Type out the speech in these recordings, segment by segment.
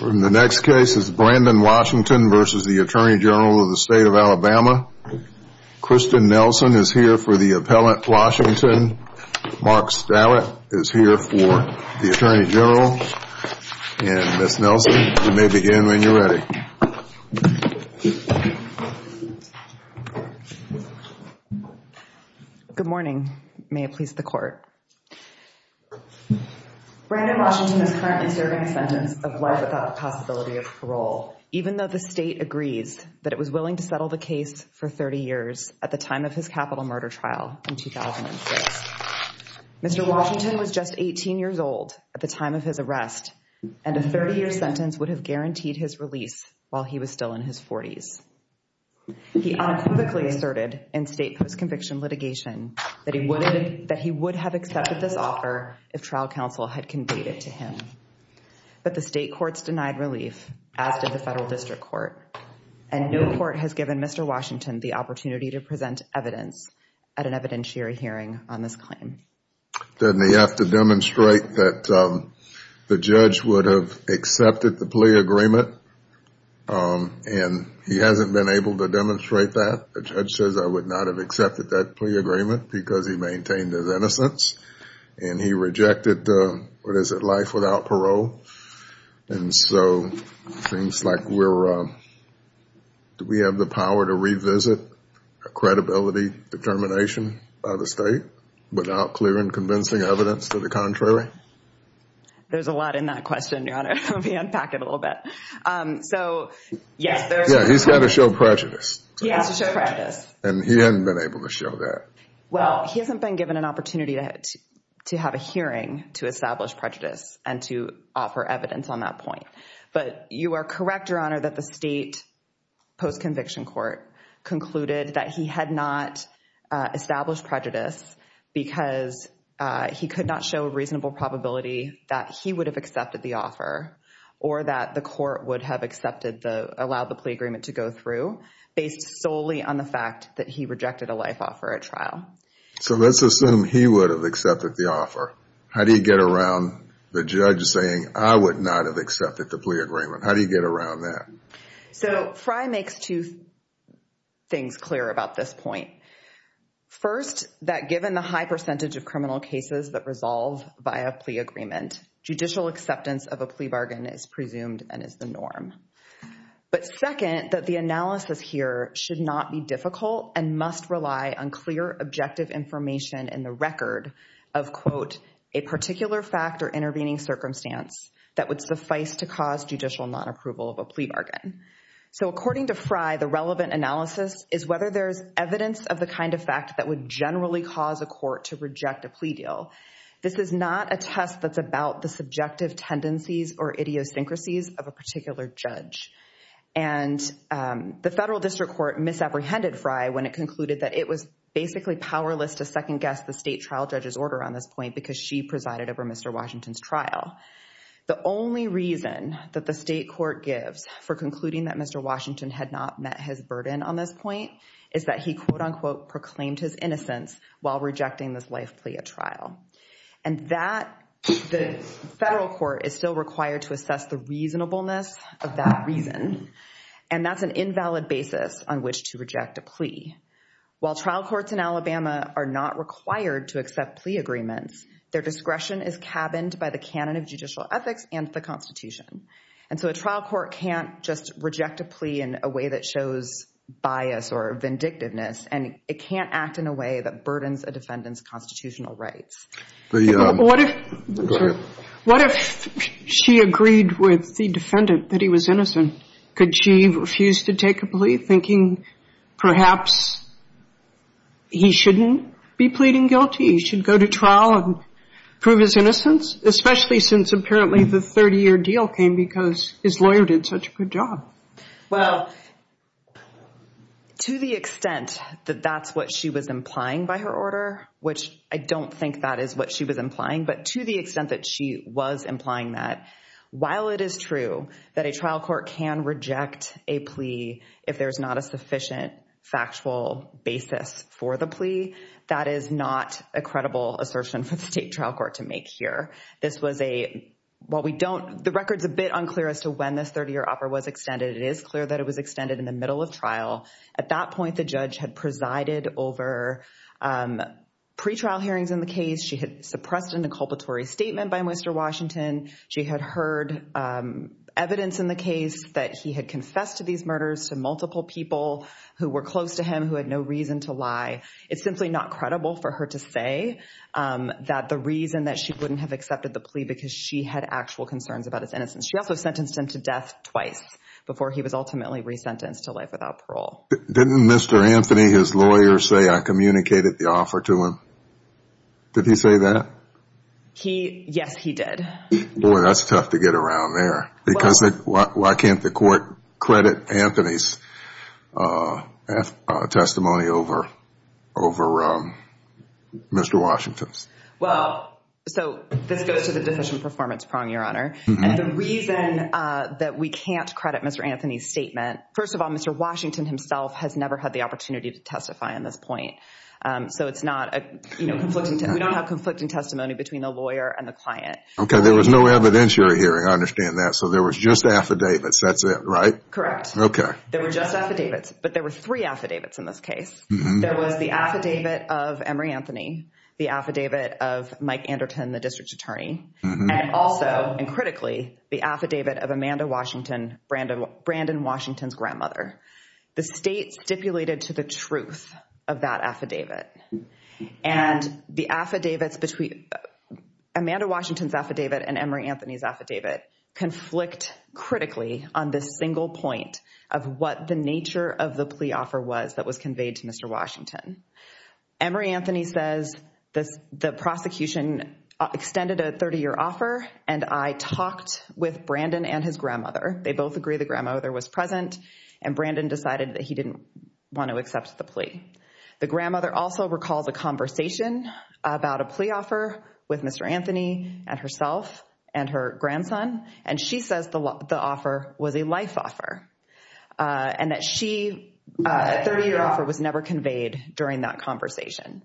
In the next case is Brandon Washington v. Attorney General of the State of Alabama. Kristen Nelson is here for the appellant Washington. Mark Stallett is here for the Attorney General and Ms. Nelson, you may begin when you're ready. Good morning. May it please the court. Brandon Washington is currently serving a sentence of life without the possibility of parole, even though the state agrees that it was willing to settle the case for 30 years at the time of his capital murder trial in 2006. Mr. Washington was just 18 years old at the time of his arrest, and a 30 year sentence would have guaranteed his release while he was still in his 40s. He unequivocally asserted in state post-conviction litigation that he would have accepted this offer if trial counsel had conveyed it to him. But the state courts denied relief, as did the federal district court. And no court has given Mr. Washington the opportunity to present evidence at an evidentiary hearing on this claim. Doesn't he have to demonstrate that the judge would have accepted the plea agreement? And he hasn't been able to demonstrate that. The judge says I would not have accepted that plea agreement because he maintained his innocence. And he rejected, what is it, life without parole. And so it seems like we're, do we have the power to revisit a credibility determination by the state without clear and convincing evidence to the contrary? There's a lot in that question, Your Honor. Let me unpack it a little bit. So, yes, there is. Yeah, he's got to show prejudice. He has to show prejudice. And he hasn't been able to show that. Well, he hasn't been given an opportunity to have a hearing to establish prejudice and to offer evidence on that point. But you are correct, Your Honor, that the state post-conviction court concluded that he had not established prejudice because he could not show a reasonable probability that he would have accepted the offer. Or that the court would have accepted the, allowed the plea agreement to go through based solely on the fact that he rejected a life offer at trial. So let's assume he would have accepted the offer. How do you get around the judge saying I would not have accepted the plea agreement? How do you get around that? So Fry makes two things clear about this point. First, that given the high percentage of criminal cases that resolve via plea agreement, judicial acceptance of a plea bargain is presumed and is the norm. But second, that the analysis here should not be difficult and must rely on clear, objective information in the record of, quote, a particular fact or intervening circumstance that would suffice to cause judicial non-approval of a plea bargain. So according to Fry, the relevant analysis is whether there's evidence of the kind of fact that would generally cause a court to reject a plea deal. This is not a test that's about the subjective tendencies or idiosyncrasies of a particular judge. And the federal district court misapprehended Fry when it concluded that it was basically powerless to second-guess the state trial judge's order on this point because she presided over Mr. Washington's trial. The only reason that the state court gives for concluding that Mr. Washington had not met his burden on this point is that he, quote, unquote, proclaimed his innocence while rejecting this life plea at trial. And that, the federal court is still required to assess the reasonableness of that reason. And that's an invalid basis on which to reject a plea. While trial courts in Alabama are not required to accept plea agreements, their discretion is cabined by the canon of judicial ethics and the Constitution. And so a trial court can't just reject a plea in a way that shows bias or vindictiveness, and it can't act in a way that burdens a defendant's constitutional rights. What if she agreed with the defendant that he was innocent? Could she refuse to take a plea, thinking perhaps he shouldn't be pleading guilty? He should go to trial and prove his innocence, especially since apparently the 30-year deal came because his lawyer did such a good job? Well, to the extent that that's what she was implying by her order, which I don't think that is what she was implying, but to the extent that she was implying that, while it is true that a trial court can reject a plea if there's not a sufficient factual basis for the plea, that is not a credible assertion for the state trial court to make here. This was a – while we don't – the record's a bit unclear as to when this 30-year offer was extended. It is clear that it was extended in the middle of trial. At that point, the judge had presided over pretrial hearings in the case. She had suppressed an inculpatory statement by Mr. Washington. She had heard evidence in the case that he had confessed to these murders to multiple people who were close to him who had no reason to lie. It's simply not credible for her to say that the reason that she wouldn't have accepted the plea because she had actual concerns about his innocence. She also sentenced him to death twice before he was ultimately resentenced to life without parole. Didn't Mr. Anthony, his lawyer, say, I communicated the offer to him? Did he say that? He – yes, he did. Boy, that's tough to get around there because why can't the court credit Anthony's testimony over Mr. Washington's? Well, so this goes to the deficient performance prong, Your Honor. And the reason that we can't credit Mr. Anthony's statement, first of all, Mr. Washington himself has never had the opportunity to testify on this point. So it's not a conflicting – we don't have conflicting testimony between the lawyer and the client. Okay. There was no evidentiary hearing. I understand that. So there was just affidavits. That's it, right? Correct. Okay. There were just affidavits. But there were three affidavits in this case. There was the affidavit of Emory Anthony, the affidavit of Mike Anderton, the district attorney, and also, and critically, the affidavit of Amanda Washington, Brandon Washington's grandmother. The state stipulated to the truth of that affidavit. And the affidavits between Amanda Washington's affidavit and Emory Anthony's affidavit conflict critically on this single point of what the nature of the plea offer was that was conveyed to Mr. Washington. Emory Anthony says the prosecution extended a 30-year offer, and I talked with Brandon and his grandmother. They both agree the grandmother was present, and Brandon decided that he didn't want to accept the plea. The grandmother also recalls a conversation about a plea offer with Mr. Anthony and herself and her grandson, and she says the offer was a life offer and that a 30-year offer was never conveyed during that conversation.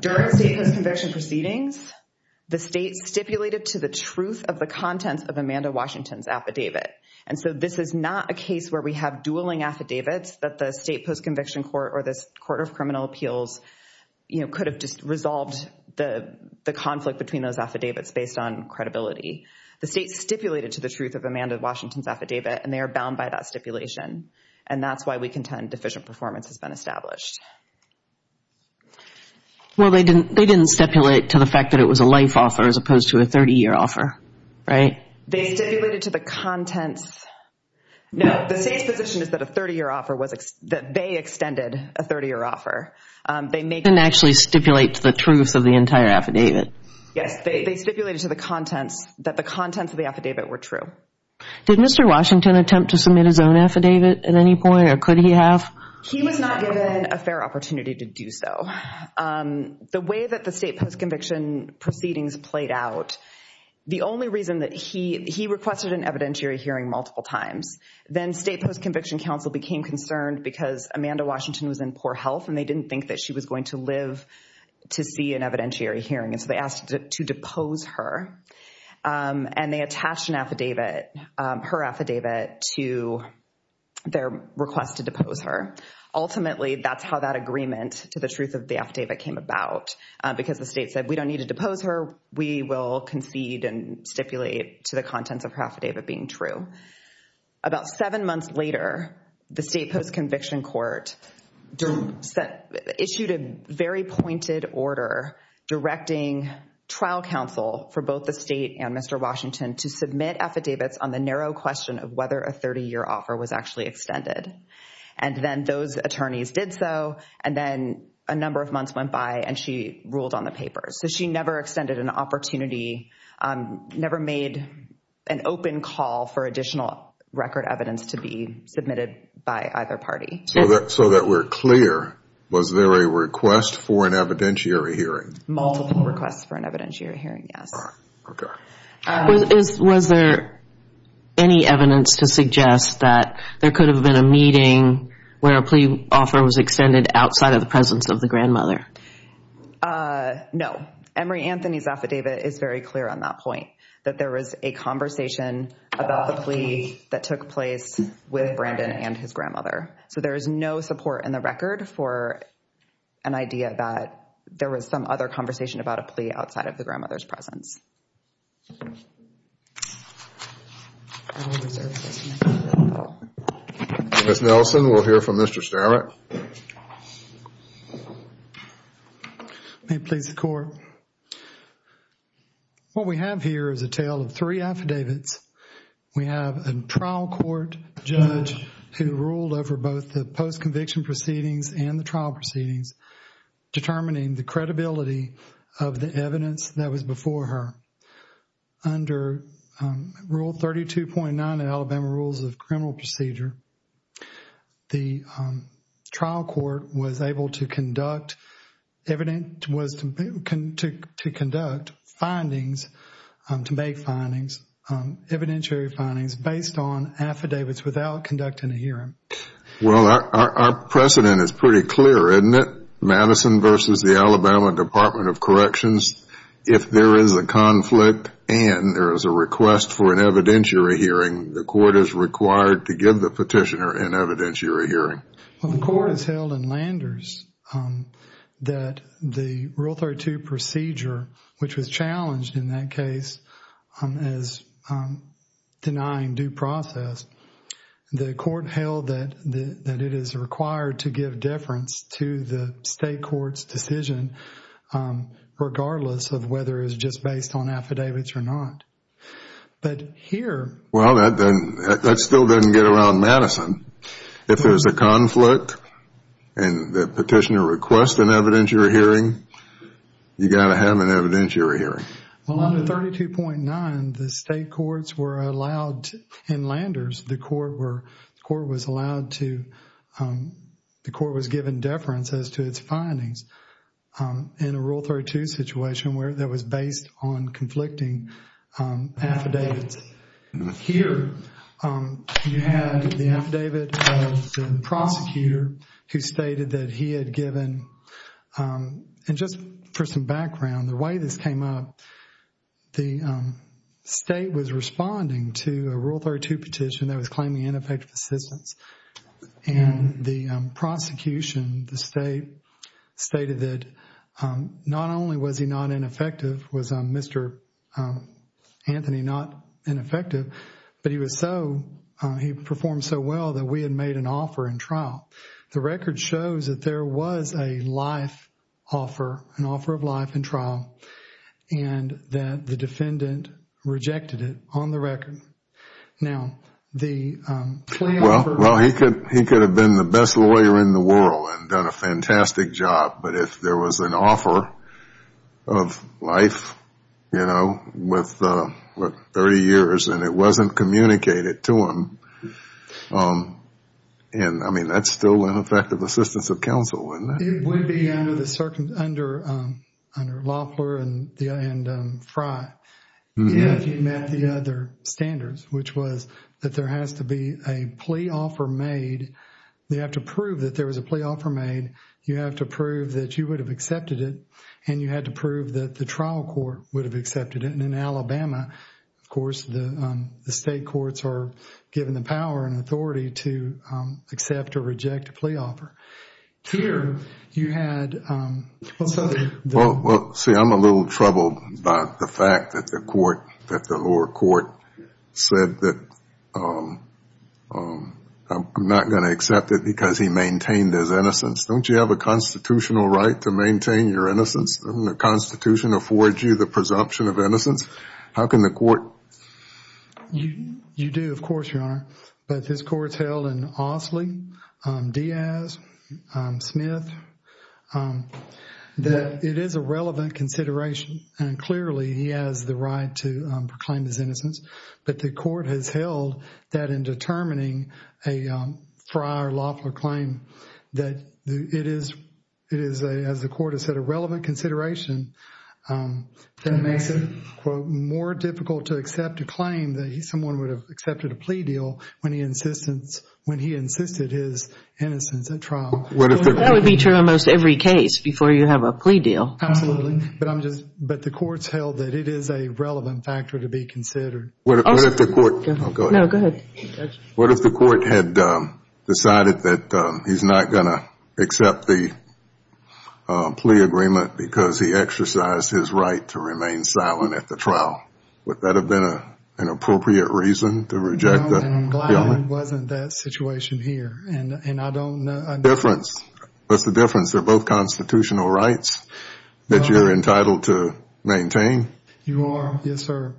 During state post-conviction proceedings, the state stipulated to the truth of the contents of Amanda Washington's affidavit. And so this is not a case where we have dueling affidavits that the state post-conviction court or this court of criminal appeals could have just resolved the conflict between those affidavits based on credibility. The state stipulated to the truth of Amanda Washington's affidavit, and they are bound by that stipulation. And that's why we contend deficient performance has been established. Well, they didn't stipulate to the fact that it was a life offer as opposed to a 30-year offer, right? They stipulated to the contents. No. The state's position is that a 30-year offer was – that they extended a 30-year offer. They didn't actually stipulate to the truth of the entire affidavit. Yes. They stipulated to the contents that the contents of the affidavit were true. Did Mr. Washington attempt to submit his own affidavit at any point, or could he have? He was not given a fair opportunity to do so. The way that the state post-conviction proceedings played out, the only reason that he – he requested an evidentiary hearing multiple times. Then state post-conviction counsel became concerned because Amanda Washington was in poor health, and they didn't think that she was going to live to see an evidentiary hearing. And so they asked to depose her, and they attached an affidavit, her affidavit, to their request to depose her. Ultimately, that's how that agreement to the truth of the affidavit came about, because the state said we don't need to depose her. We will concede and stipulate to the contents of her affidavit being true. About seven months later, the state post-conviction court issued a very pointed order directing trial counsel for both the state and Mr. Washington to submit affidavits on the narrow question of whether a 30-year offer was actually extended. And then those attorneys did so, and then a number of months went by, and she ruled on the papers. So she never extended an opportunity, never made an open call for additional record evidence to be submitted by either party. So that we're clear, was there a request for an evidentiary hearing? Multiple requests for an evidentiary hearing, yes. Okay. Was there any evidence to suggest that there could have been a meeting where a plea offer was extended outside of the presence of the grandmother? No. Emory Anthony's affidavit is very clear on that point, that there was a conversation about the plea that took place with Brandon and his grandmother. So there is no support in the record for an idea that there was some other conversation about a plea outside of the grandmother's presence. Ms. Nelson, we'll hear from Mr. Starrett. May it please the Court. What we have here is a tale of three affidavits. We have a trial court judge who ruled over both the post-conviction proceedings and the trial proceedings, determining the credibility of the evidence that was before her. Under Rule 32.9 of Alabama Rules of Criminal Procedure, the trial court was able to conduct findings, to make findings, evidentiary findings, based on affidavits without conducting a hearing. Well, our precedent is pretty clear, isn't it? Madison v. The Alabama Department of Corrections, if there is a conflict and there is a request for an evidentiary hearing, the court is required to give the petitioner an evidentiary hearing. The court has held in Landers that the Rule 32 procedure, which was challenged in that case as denying due process, the court held that it is required to give deference to the state court's decision, regardless of whether it is just based on affidavits or not. But here... Well, that still doesn't get around Madison. If there is a conflict and the petitioner requests an evidentiary hearing, you got to have an evidentiary hearing. Well, under 32.9, the state courts were allowed, in Landers, the court was allowed to, the court was given deference as to its findings in a Rule 32 situation that was based on conflicting affidavits. Here, you have the affidavit of the prosecutor who stated that he had given, and just for some background, the way this came up, the state was responding to a Rule 32 petition that was claiming ineffective assistance. And the prosecution, the state, stated that not only was he not ineffective, was Mr. Anthony not ineffective, but he was so, he performed so well that we had made an offer in trial. The record shows that there was a life offer, an offer of life in trial, and that the defendant rejected it on the record. Now, the claim for... Well, he could have been the best lawyer in the world and done a fantastic job, but if there was an offer of life, you know, with 30 years, and it wasn't communicated to him, I mean, that's still ineffective assistance of counsel, isn't it? It would be under Loeffler and Frye if he met the other standards, which was that there has to be a plea offer made. They have to prove that there was a plea offer made. You have to prove that you would have accepted it, and you had to prove that the trial court would have accepted it. And in Alabama, of course, the state courts are given the power and authority to accept or reject a plea offer. Here, you had... Well, see, I'm a little troubled by the fact that the court, that the lower court said that I'm not going to accept it because he maintained his innocence. Don't you have a constitutional right to maintain your innocence? Doesn't the Constitution afford you the presumption of innocence? How can the court... You do, of course, Your Honor, but this court's held in Osley, Diaz, Smith, that it is a relevant consideration, and clearly he has the right to proclaim his innocence, but the court has held that in determining a Frye or Loeffler claim, that it is, as the court has said, a relevant consideration that makes it, quote, more difficult to accept a claim that someone would have accepted a plea deal when he insisted his innocence at trial. That would be true in almost every case before you have a plea deal. Absolutely. But the court's held that it is a relevant factor to be considered. What if the court... No, go ahead. What if the court had decided that he's not going to accept the plea agreement because he exercised his right to remain silent at the trial? Would that have been an appropriate reason to reject the... No, and Glywelyn wasn't that situation here, and I don't... Difference. What's the difference? They're both constitutional rights that you're entitled to maintain. You are, yes, sir.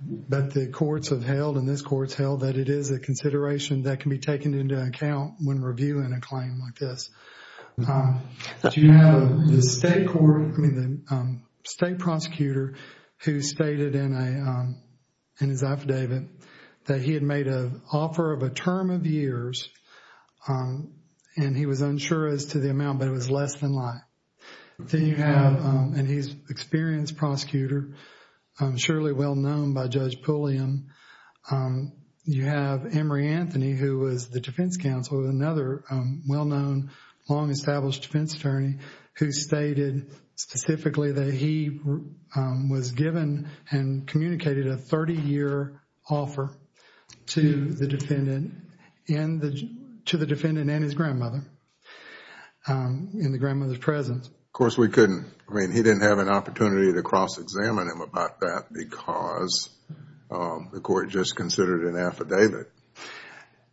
But the courts have held, and this court's held, that it is a consideration that can be taken into account when reviewing a claim like this. Do you have the state prosecutor who stated in his affidavit that he had made an offer of a term of years, and he was unsure as to the amount, but it was less than life. Then you have, and he's an experienced prosecutor, surely well-known by Judge Pulliam. You have Emory Anthony, who was the defense counsel, another well-known, long-established defense attorney, who stated specifically that he was given and communicated a 30-year offer to the defendant and his grandmother, in the grandmother's presence. Of course, we couldn't. I mean, he didn't have an opportunity to cross-examine him about that because the court just considered an affidavit.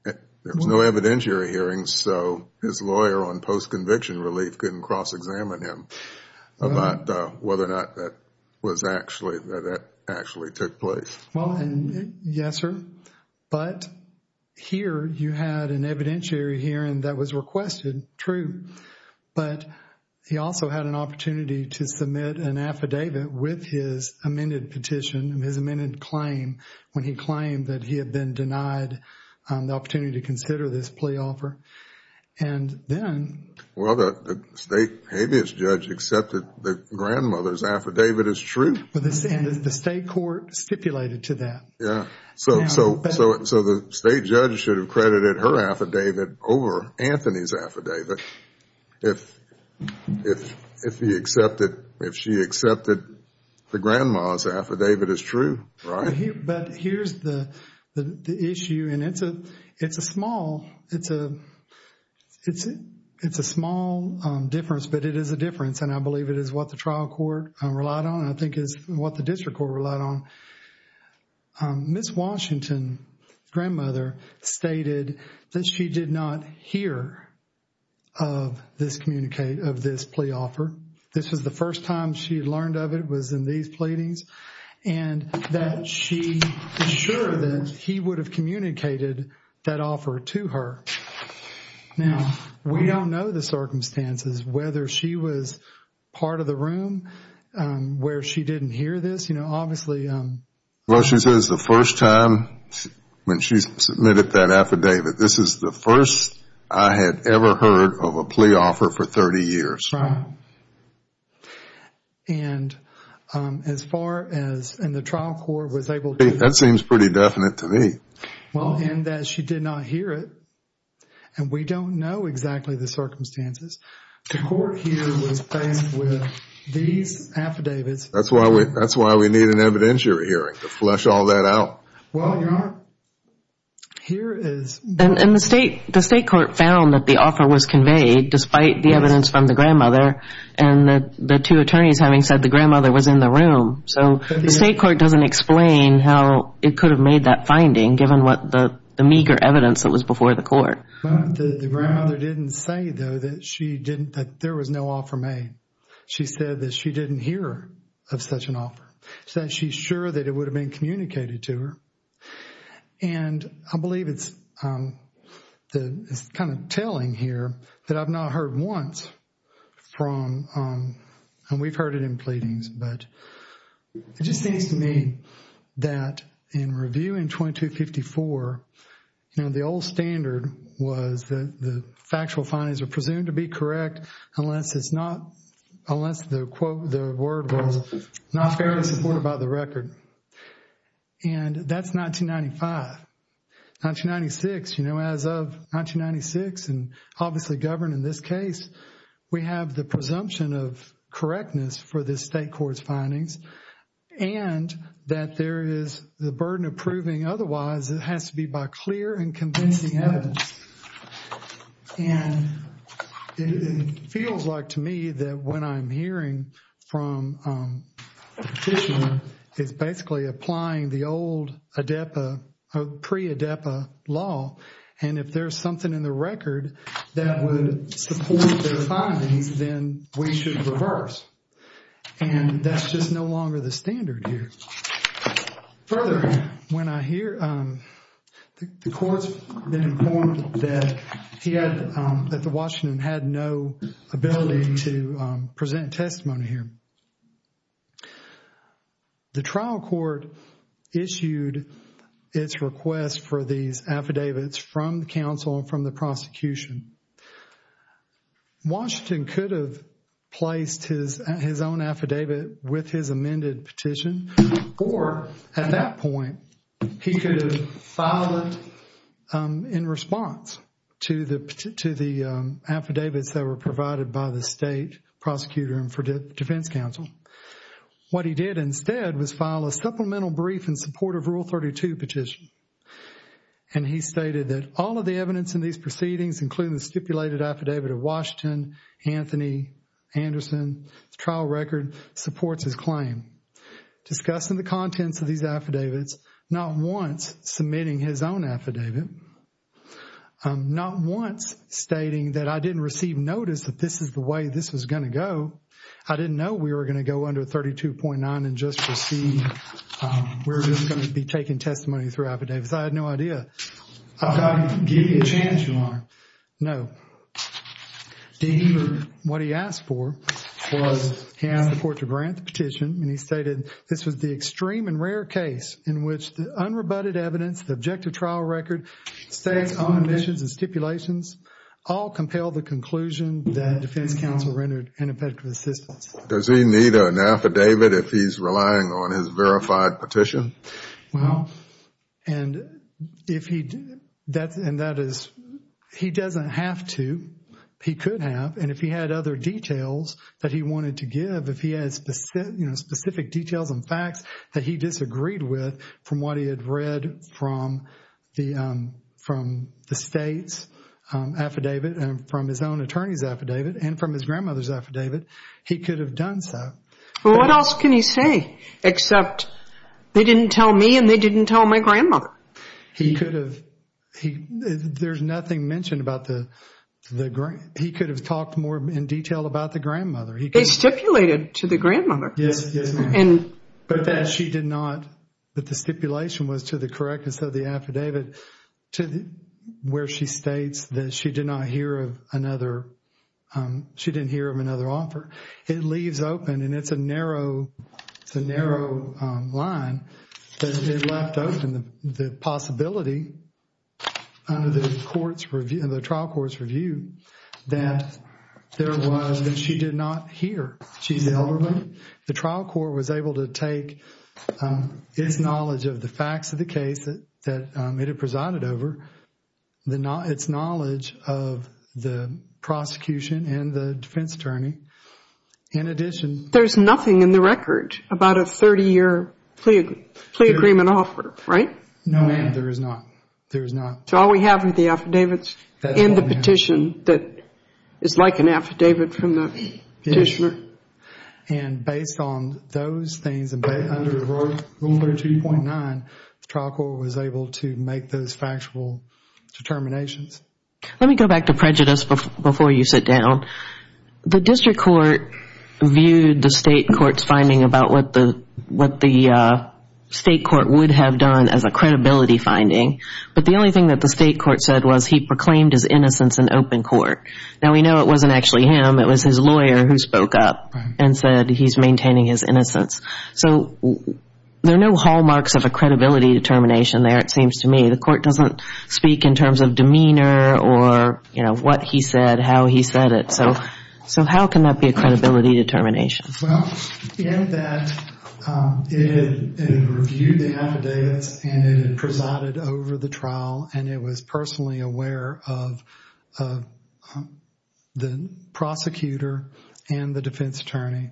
There was no evidentiary hearing, so his lawyer on post-conviction relief couldn't cross-examine him about whether or not that actually took place. Well, yes, sir. But here you had an evidentiary hearing that was requested. True. But he also had an opportunity to submit an affidavit with his amended petition, his amended claim, when he claimed that he had been denied the opportunity to consider this plea offer. And then... Well, the state habeas judge accepted the grandmother's affidavit as true. And the state court stipulated to that. Yeah. So the state judge should have credited her affidavit over Anthony's affidavit if he accepted, if she accepted the grandma's affidavit as true, right? But here's the issue, and it's a small, it's a small difference, but it is a difference. And I believe it is what the trial court relied on, and I think it's what the district court relied on. Ms. Washington's grandmother stated that she did not hear of this communicate, of this plea offer. This was the first time she learned of it was in these pleadings, and that she was sure that he would have communicated that offer to her. Now, we don't know the circumstances, whether she was part of the room where she didn't hear this. You know, obviously... Well, she says the first time when she submitted that affidavit, this is the first I had ever heard of a plea offer for 30 years. Right. And as far as, and the trial court was able to... That seems pretty definite to me. Well, and that she did not hear it, and we don't know exactly the circumstances. The court here was faced with these affidavits. That's why we need an evidentiary hearing, to flesh all that out. Well, Your Honor, here is... And the state court found that the offer was conveyed, despite the evidence from the grandmother, and the two attorneys having said the grandmother was in the room. So the state court doesn't explain how it could have made that finding, given what the meager evidence that was before the court. The grandmother didn't say, though, that she didn't, that there was no offer made. She said that she didn't hear of such an offer. She said she's sure that it would have been communicated to her. And I believe it's kind of telling here that I've not heard once from... And we've heard it in pleadings, but it just seems to me that in reviewing 2254, you know, the old standard was that the factual findings are presumed to be correct, unless it's not, unless the quote, the word was not fairly supported by the record. And that's 1995. 1996, you know, as of 1996, and obviously governed in this case, we have the presumption of correctness for the state court's findings, and that there is the burden of proving otherwise. It has to be by clear and convincing evidence. And it feels like to me that when I'm hearing from a petitioner, it's basically applying the old ADEPA, pre-ADEPA law, and if there's something in the record that would support their findings, then we should reverse. And that's just no longer the standard here. Further, when I hear, the court's been informed that he had, that the Washington had no ability to present testimony here. The trial court issued its request for these affidavits from the counsel and from the prosecution. Washington could have placed his own affidavit with his amended petition, or at that point, he could have filed it in response to the affidavits that were provided by the state prosecutor and for defense counsel. What he did instead was file a supplemental brief in support of Rule 32 petition. And he stated that all of the evidence in these proceedings, including the stipulated affidavit of Washington, Anthony, Anderson, the trial record supports his claim. Discussing the contents of these affidavits, not once submitting his own affidavit, not once stating that I didn't receive notice that this is the way this was going to go. I didn't know we were going to go under 32.9 and just receive, we're just going to be taking testimony through affidavits. I had no idea. I've got to give you a chance, Your Honor. No. But what he asked for was he asked the court to grant the petition, and he stated this was the extreme and rare case in which the unrebutted evidence, the objective trial record, states, conditions, and stipulations all compel the conclusion that defense counsel rendered ineffective assistance. Does he need an affidavit if he's relying on his verified petition? Well, and if he, and that is, he doesn't have to. He could have. And if he had other details that he wanted to give, if he had specific details and facts that he disagreed with from what he had read from the state's affidavit and from his own attorney's affidavit and from his grandmother's affidavit, he could have done so. Well, what else can he say except they didn't tell me and they didn't tell my grandmother? He could have. There's nothing mentioned about the grandmother. He could have talked more in detail about the grandmother. They stipulated to the grandmother. Yes, yes, ma'am. But that she did not, that the stipulation was to the correctness of the affidavit where she states that she did not hear of another, she didn't hear of another offer. It leaves open, and it's a narrow, it's a narrow line, that it left open the possibility under the trial court's review that there was that she did not hear. She's the elderly. The trial court was able to take its knowledge of the facts of the case that it had presided over, its knowledge of the prosecution and the defense attorney, in addition. There's nothing in the record about a 30-year plea agreement offer, right? No, ma'am, there is not. There is not. So all we have are the affidavits and the petition that is like an affidavit from the petitioner. And based on those things and under Rule 32.9, the trial court was able to make those factual determinations. Let me go back to prejudice before you sit down. The district court viewed the state court's finding about what the state court would have done as a credibility finding. But the only thing that the state court said was he proclaimed his innocence in open court. Now, we know it wasn't actually him. It was his lawyer who spoke up and said he's maintaining his innocence. So there are no hallmarks of a credibility determination there, it seems to me. The court doesn't speak in terms of demeanor or, you know, what he said, how he said it. So how can that be a credibility determination? Well, in that it had reviewed the affidavits and it had presided over the trial and it was personally aware of the prosecutor and the defense attorney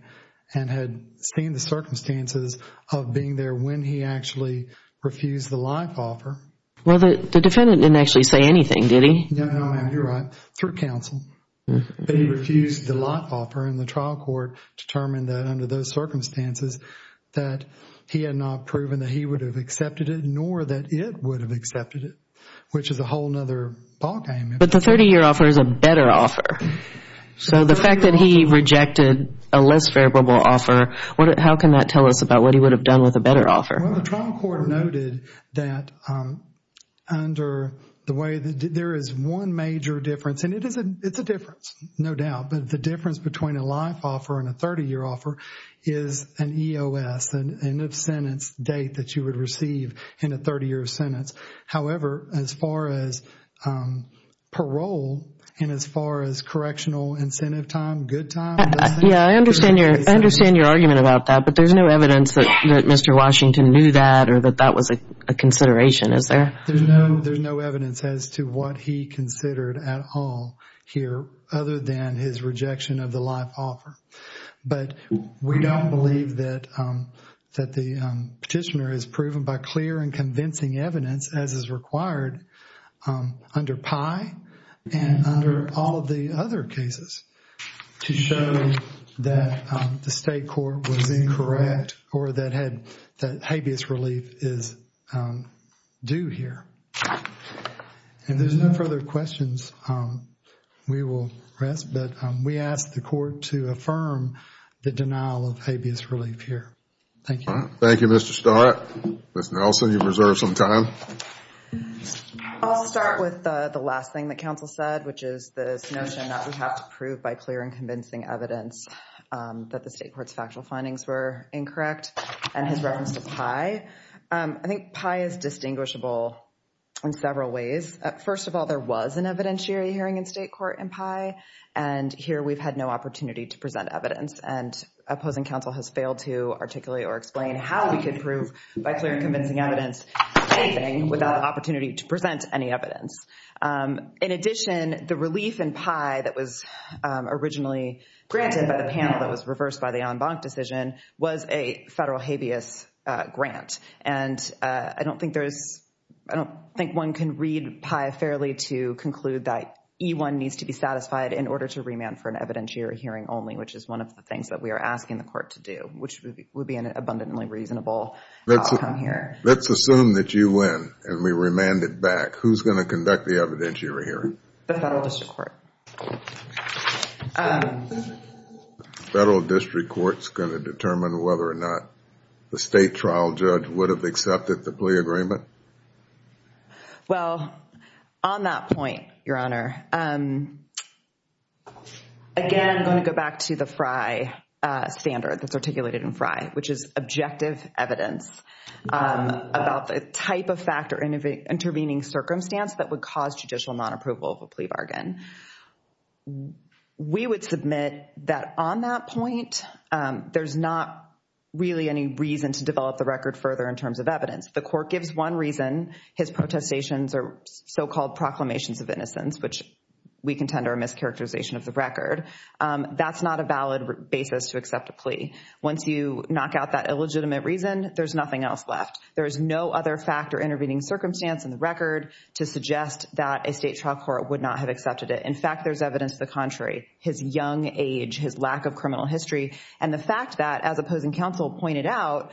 and had seen the circumstances of being there when he actually refused the life offer. Well, the defendant didn't actually say anything, did he? No, ma'am, you're right, through counsel. But he refused the life offer and the trial court determined that under those circumstances that he had not proven that he would have accepted it nor that it would have accepted it, which is a whole other ballgame. But the 30-year offer is a better offer. So the fact that he rejected a less favorable offer, how can that tell us about what he would have done with a better offer? Well, the trial court noted that under the way that there is one major difference, and it's a difference, no doubt, but the difference between a life offer and a 30-year offer is an EOS, the end of sentence date that you would receive in a 30-year sentence. However, as far as parole and as far as correctional incentive time, good time, Yeah, I understand your argument about that, but there's no evidence that Mr. Washington knew that or that that was a consideration, is there? There's no evidence as to what he considered at all here other than his rejection of the life offer. But we don't believe that the petitioner is proven by clear and convincing evidence as is required under PI and under all of the other cases to show that the state court was incorrect or that habeas relief is due here. And there's no further questions we will ask, but we ask the court to affirm the denial of habeas relief here. Thank you. Thank you, Mr. Starr. Ms. Nelson, you've reserved some time. I'll start with the last thing that counsel said, which is this notion that we have to prove by clear and convincing evidence that the state court's factual findings were incorrect and his reference to PI. I think PI is distinguishable in several ways. First of all, there was an evidentiary hearing in state court in PI, and here we've had no opportunity to present evidence. And opposing counsel has failed to articulate or explain how we could prove by clear and convincing evidence anything without the opportunity to present any evidence. In addition, the relief in PI that was originally granted by the panel that was reversed by the en banc decision was a federal habeas grant. And I don't think one can read PI fairly to conclude that E1 needs to be satisfied in order to remand for an evidentiary hearing only, which is one of the things that we are asking the court to do, which would be an abundantly reasonable outcome here. Let's assume that you win and we remand it back. Who's going to conduct the evidentiary hearing? The federal district court. The federal district court's going to determine whether or not the state trial judge would have accepted the plea agreement? Well, on that point, Your Honor, again, I'm going to go back to the FRI standard that's articulated in FRI, which is objective evidence about the type of fact or intervening circumstance that would cause judicial nonapproval of a plea bargain. We would submit that on that point, there's not really any reason to develop the record further in terms of evidence. The court gives one reason. His protestations are so-called proclamations of innocence, which we contend are a mischaracterization of the record. That's not a valid basis to accept a plea. Once you knock out that illegitimate reason, there's nothing else left. There is no other fact or intervening circumstance in the record to suggest that a state trial court would not have accepted it. In fact, there's evidence to the contrary. His young age, his lack of criminal history, and the fact that, as opposing counsel pointed out,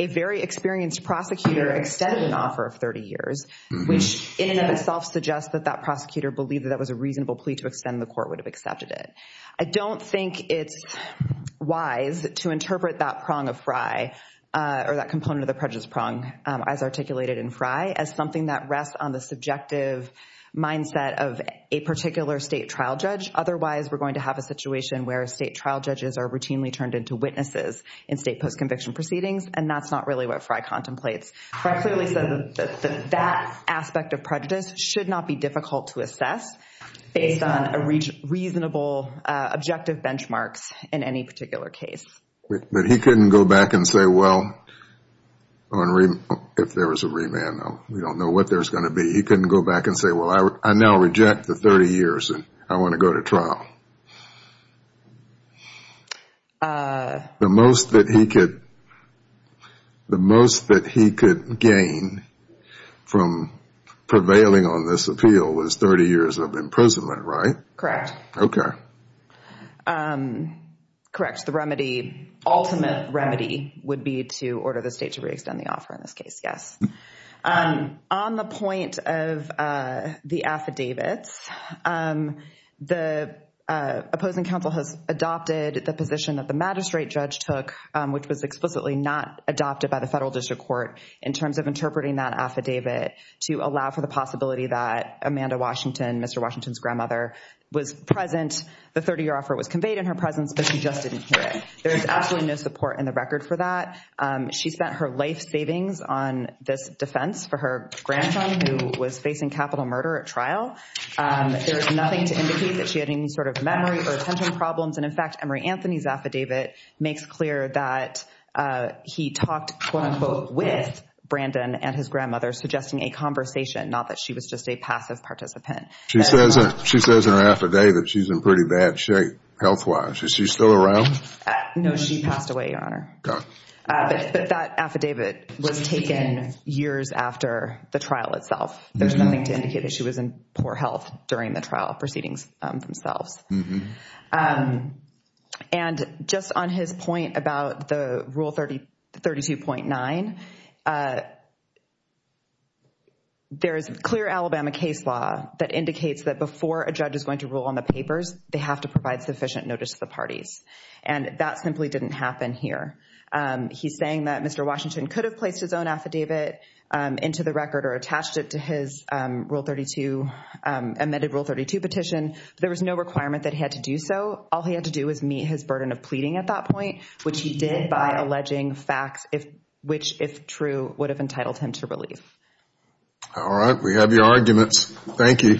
a very experienced prosecutor extended an offer of 30 years, which in and of itself suggests that that prosecutor believed that that was a reasonable plea to extend, the court would have accepted it. I don't think it's wise to interpret that prong of FRI or that component of the prejudice prong as articulated in FRI as something that rests on the subjective mindset of a particular state trial judge. Otherwise, we're going to have a situation where state trial judges are routinely turned into witnesses in state post-conviction proceedings, and that's not really what FRI contemplates. FRI clearly said that that aspect of prejudice should not be difficult to assess based on reasonable objective benchmarks in any particular case. But he couldn't go back and say, well, if there was a remand, we don't know what there's going to be. He couldn't go back and say, well, I now reject the 30 years, and I want to go to trial. The most that he could gain from prevailing on this appeal was 30 years of imprisonment, right? Correct. Okay. Correct. The ultimate remedy would be to order the state to re-extend the offer in this case, yes. On the point of the affidavits, the opposing counsel has adopted the position that the magistrate judge took, which was explicitly not adopted by the federal district court in terms of interpreting that affidavit to allow for the possibility that Amanda Washington, Mr. Washington's grandmother, was present. The 30-year offer was conveyed in her presence, but she just didn't hear it. There is absolutely no support in the record for that. She spent her life savings on this defense for her grandson, who was facing capital murder at trial. There's nothing to indicate that she had any sort of memory or attention problems. And, in fact, Emory Anthony's affidavit makes clear that he talked, quote-unquote, with Brandon and his grandmother, suggesting a conversation, not that she was just a passive participant. She says in her affidavit she's in pretty bad shape health-wise. Is she still around? No, she passed away, Your Honor. But that affidavit was taken years after the trial itself. There's nothing to indicate that she was in poor health during the trial proceedings themselves. And just on his point about the Rule 32.9, there is clear Alabama case law that indicates that before a judge is going to rule on the papers, they have to provide sufficient notice to the parties. And that simply didn't happen here. He's saying that Mr. Washington could have placed his own affidavit into the record or attached it to his amended Rule 32 petition. There was no requirement that he had to do so. All he had to do was meet his burden of pleading at that point, which he did by alleging facts which, if true, would have entitled him to relief. All right. We have your arguments. Thank you.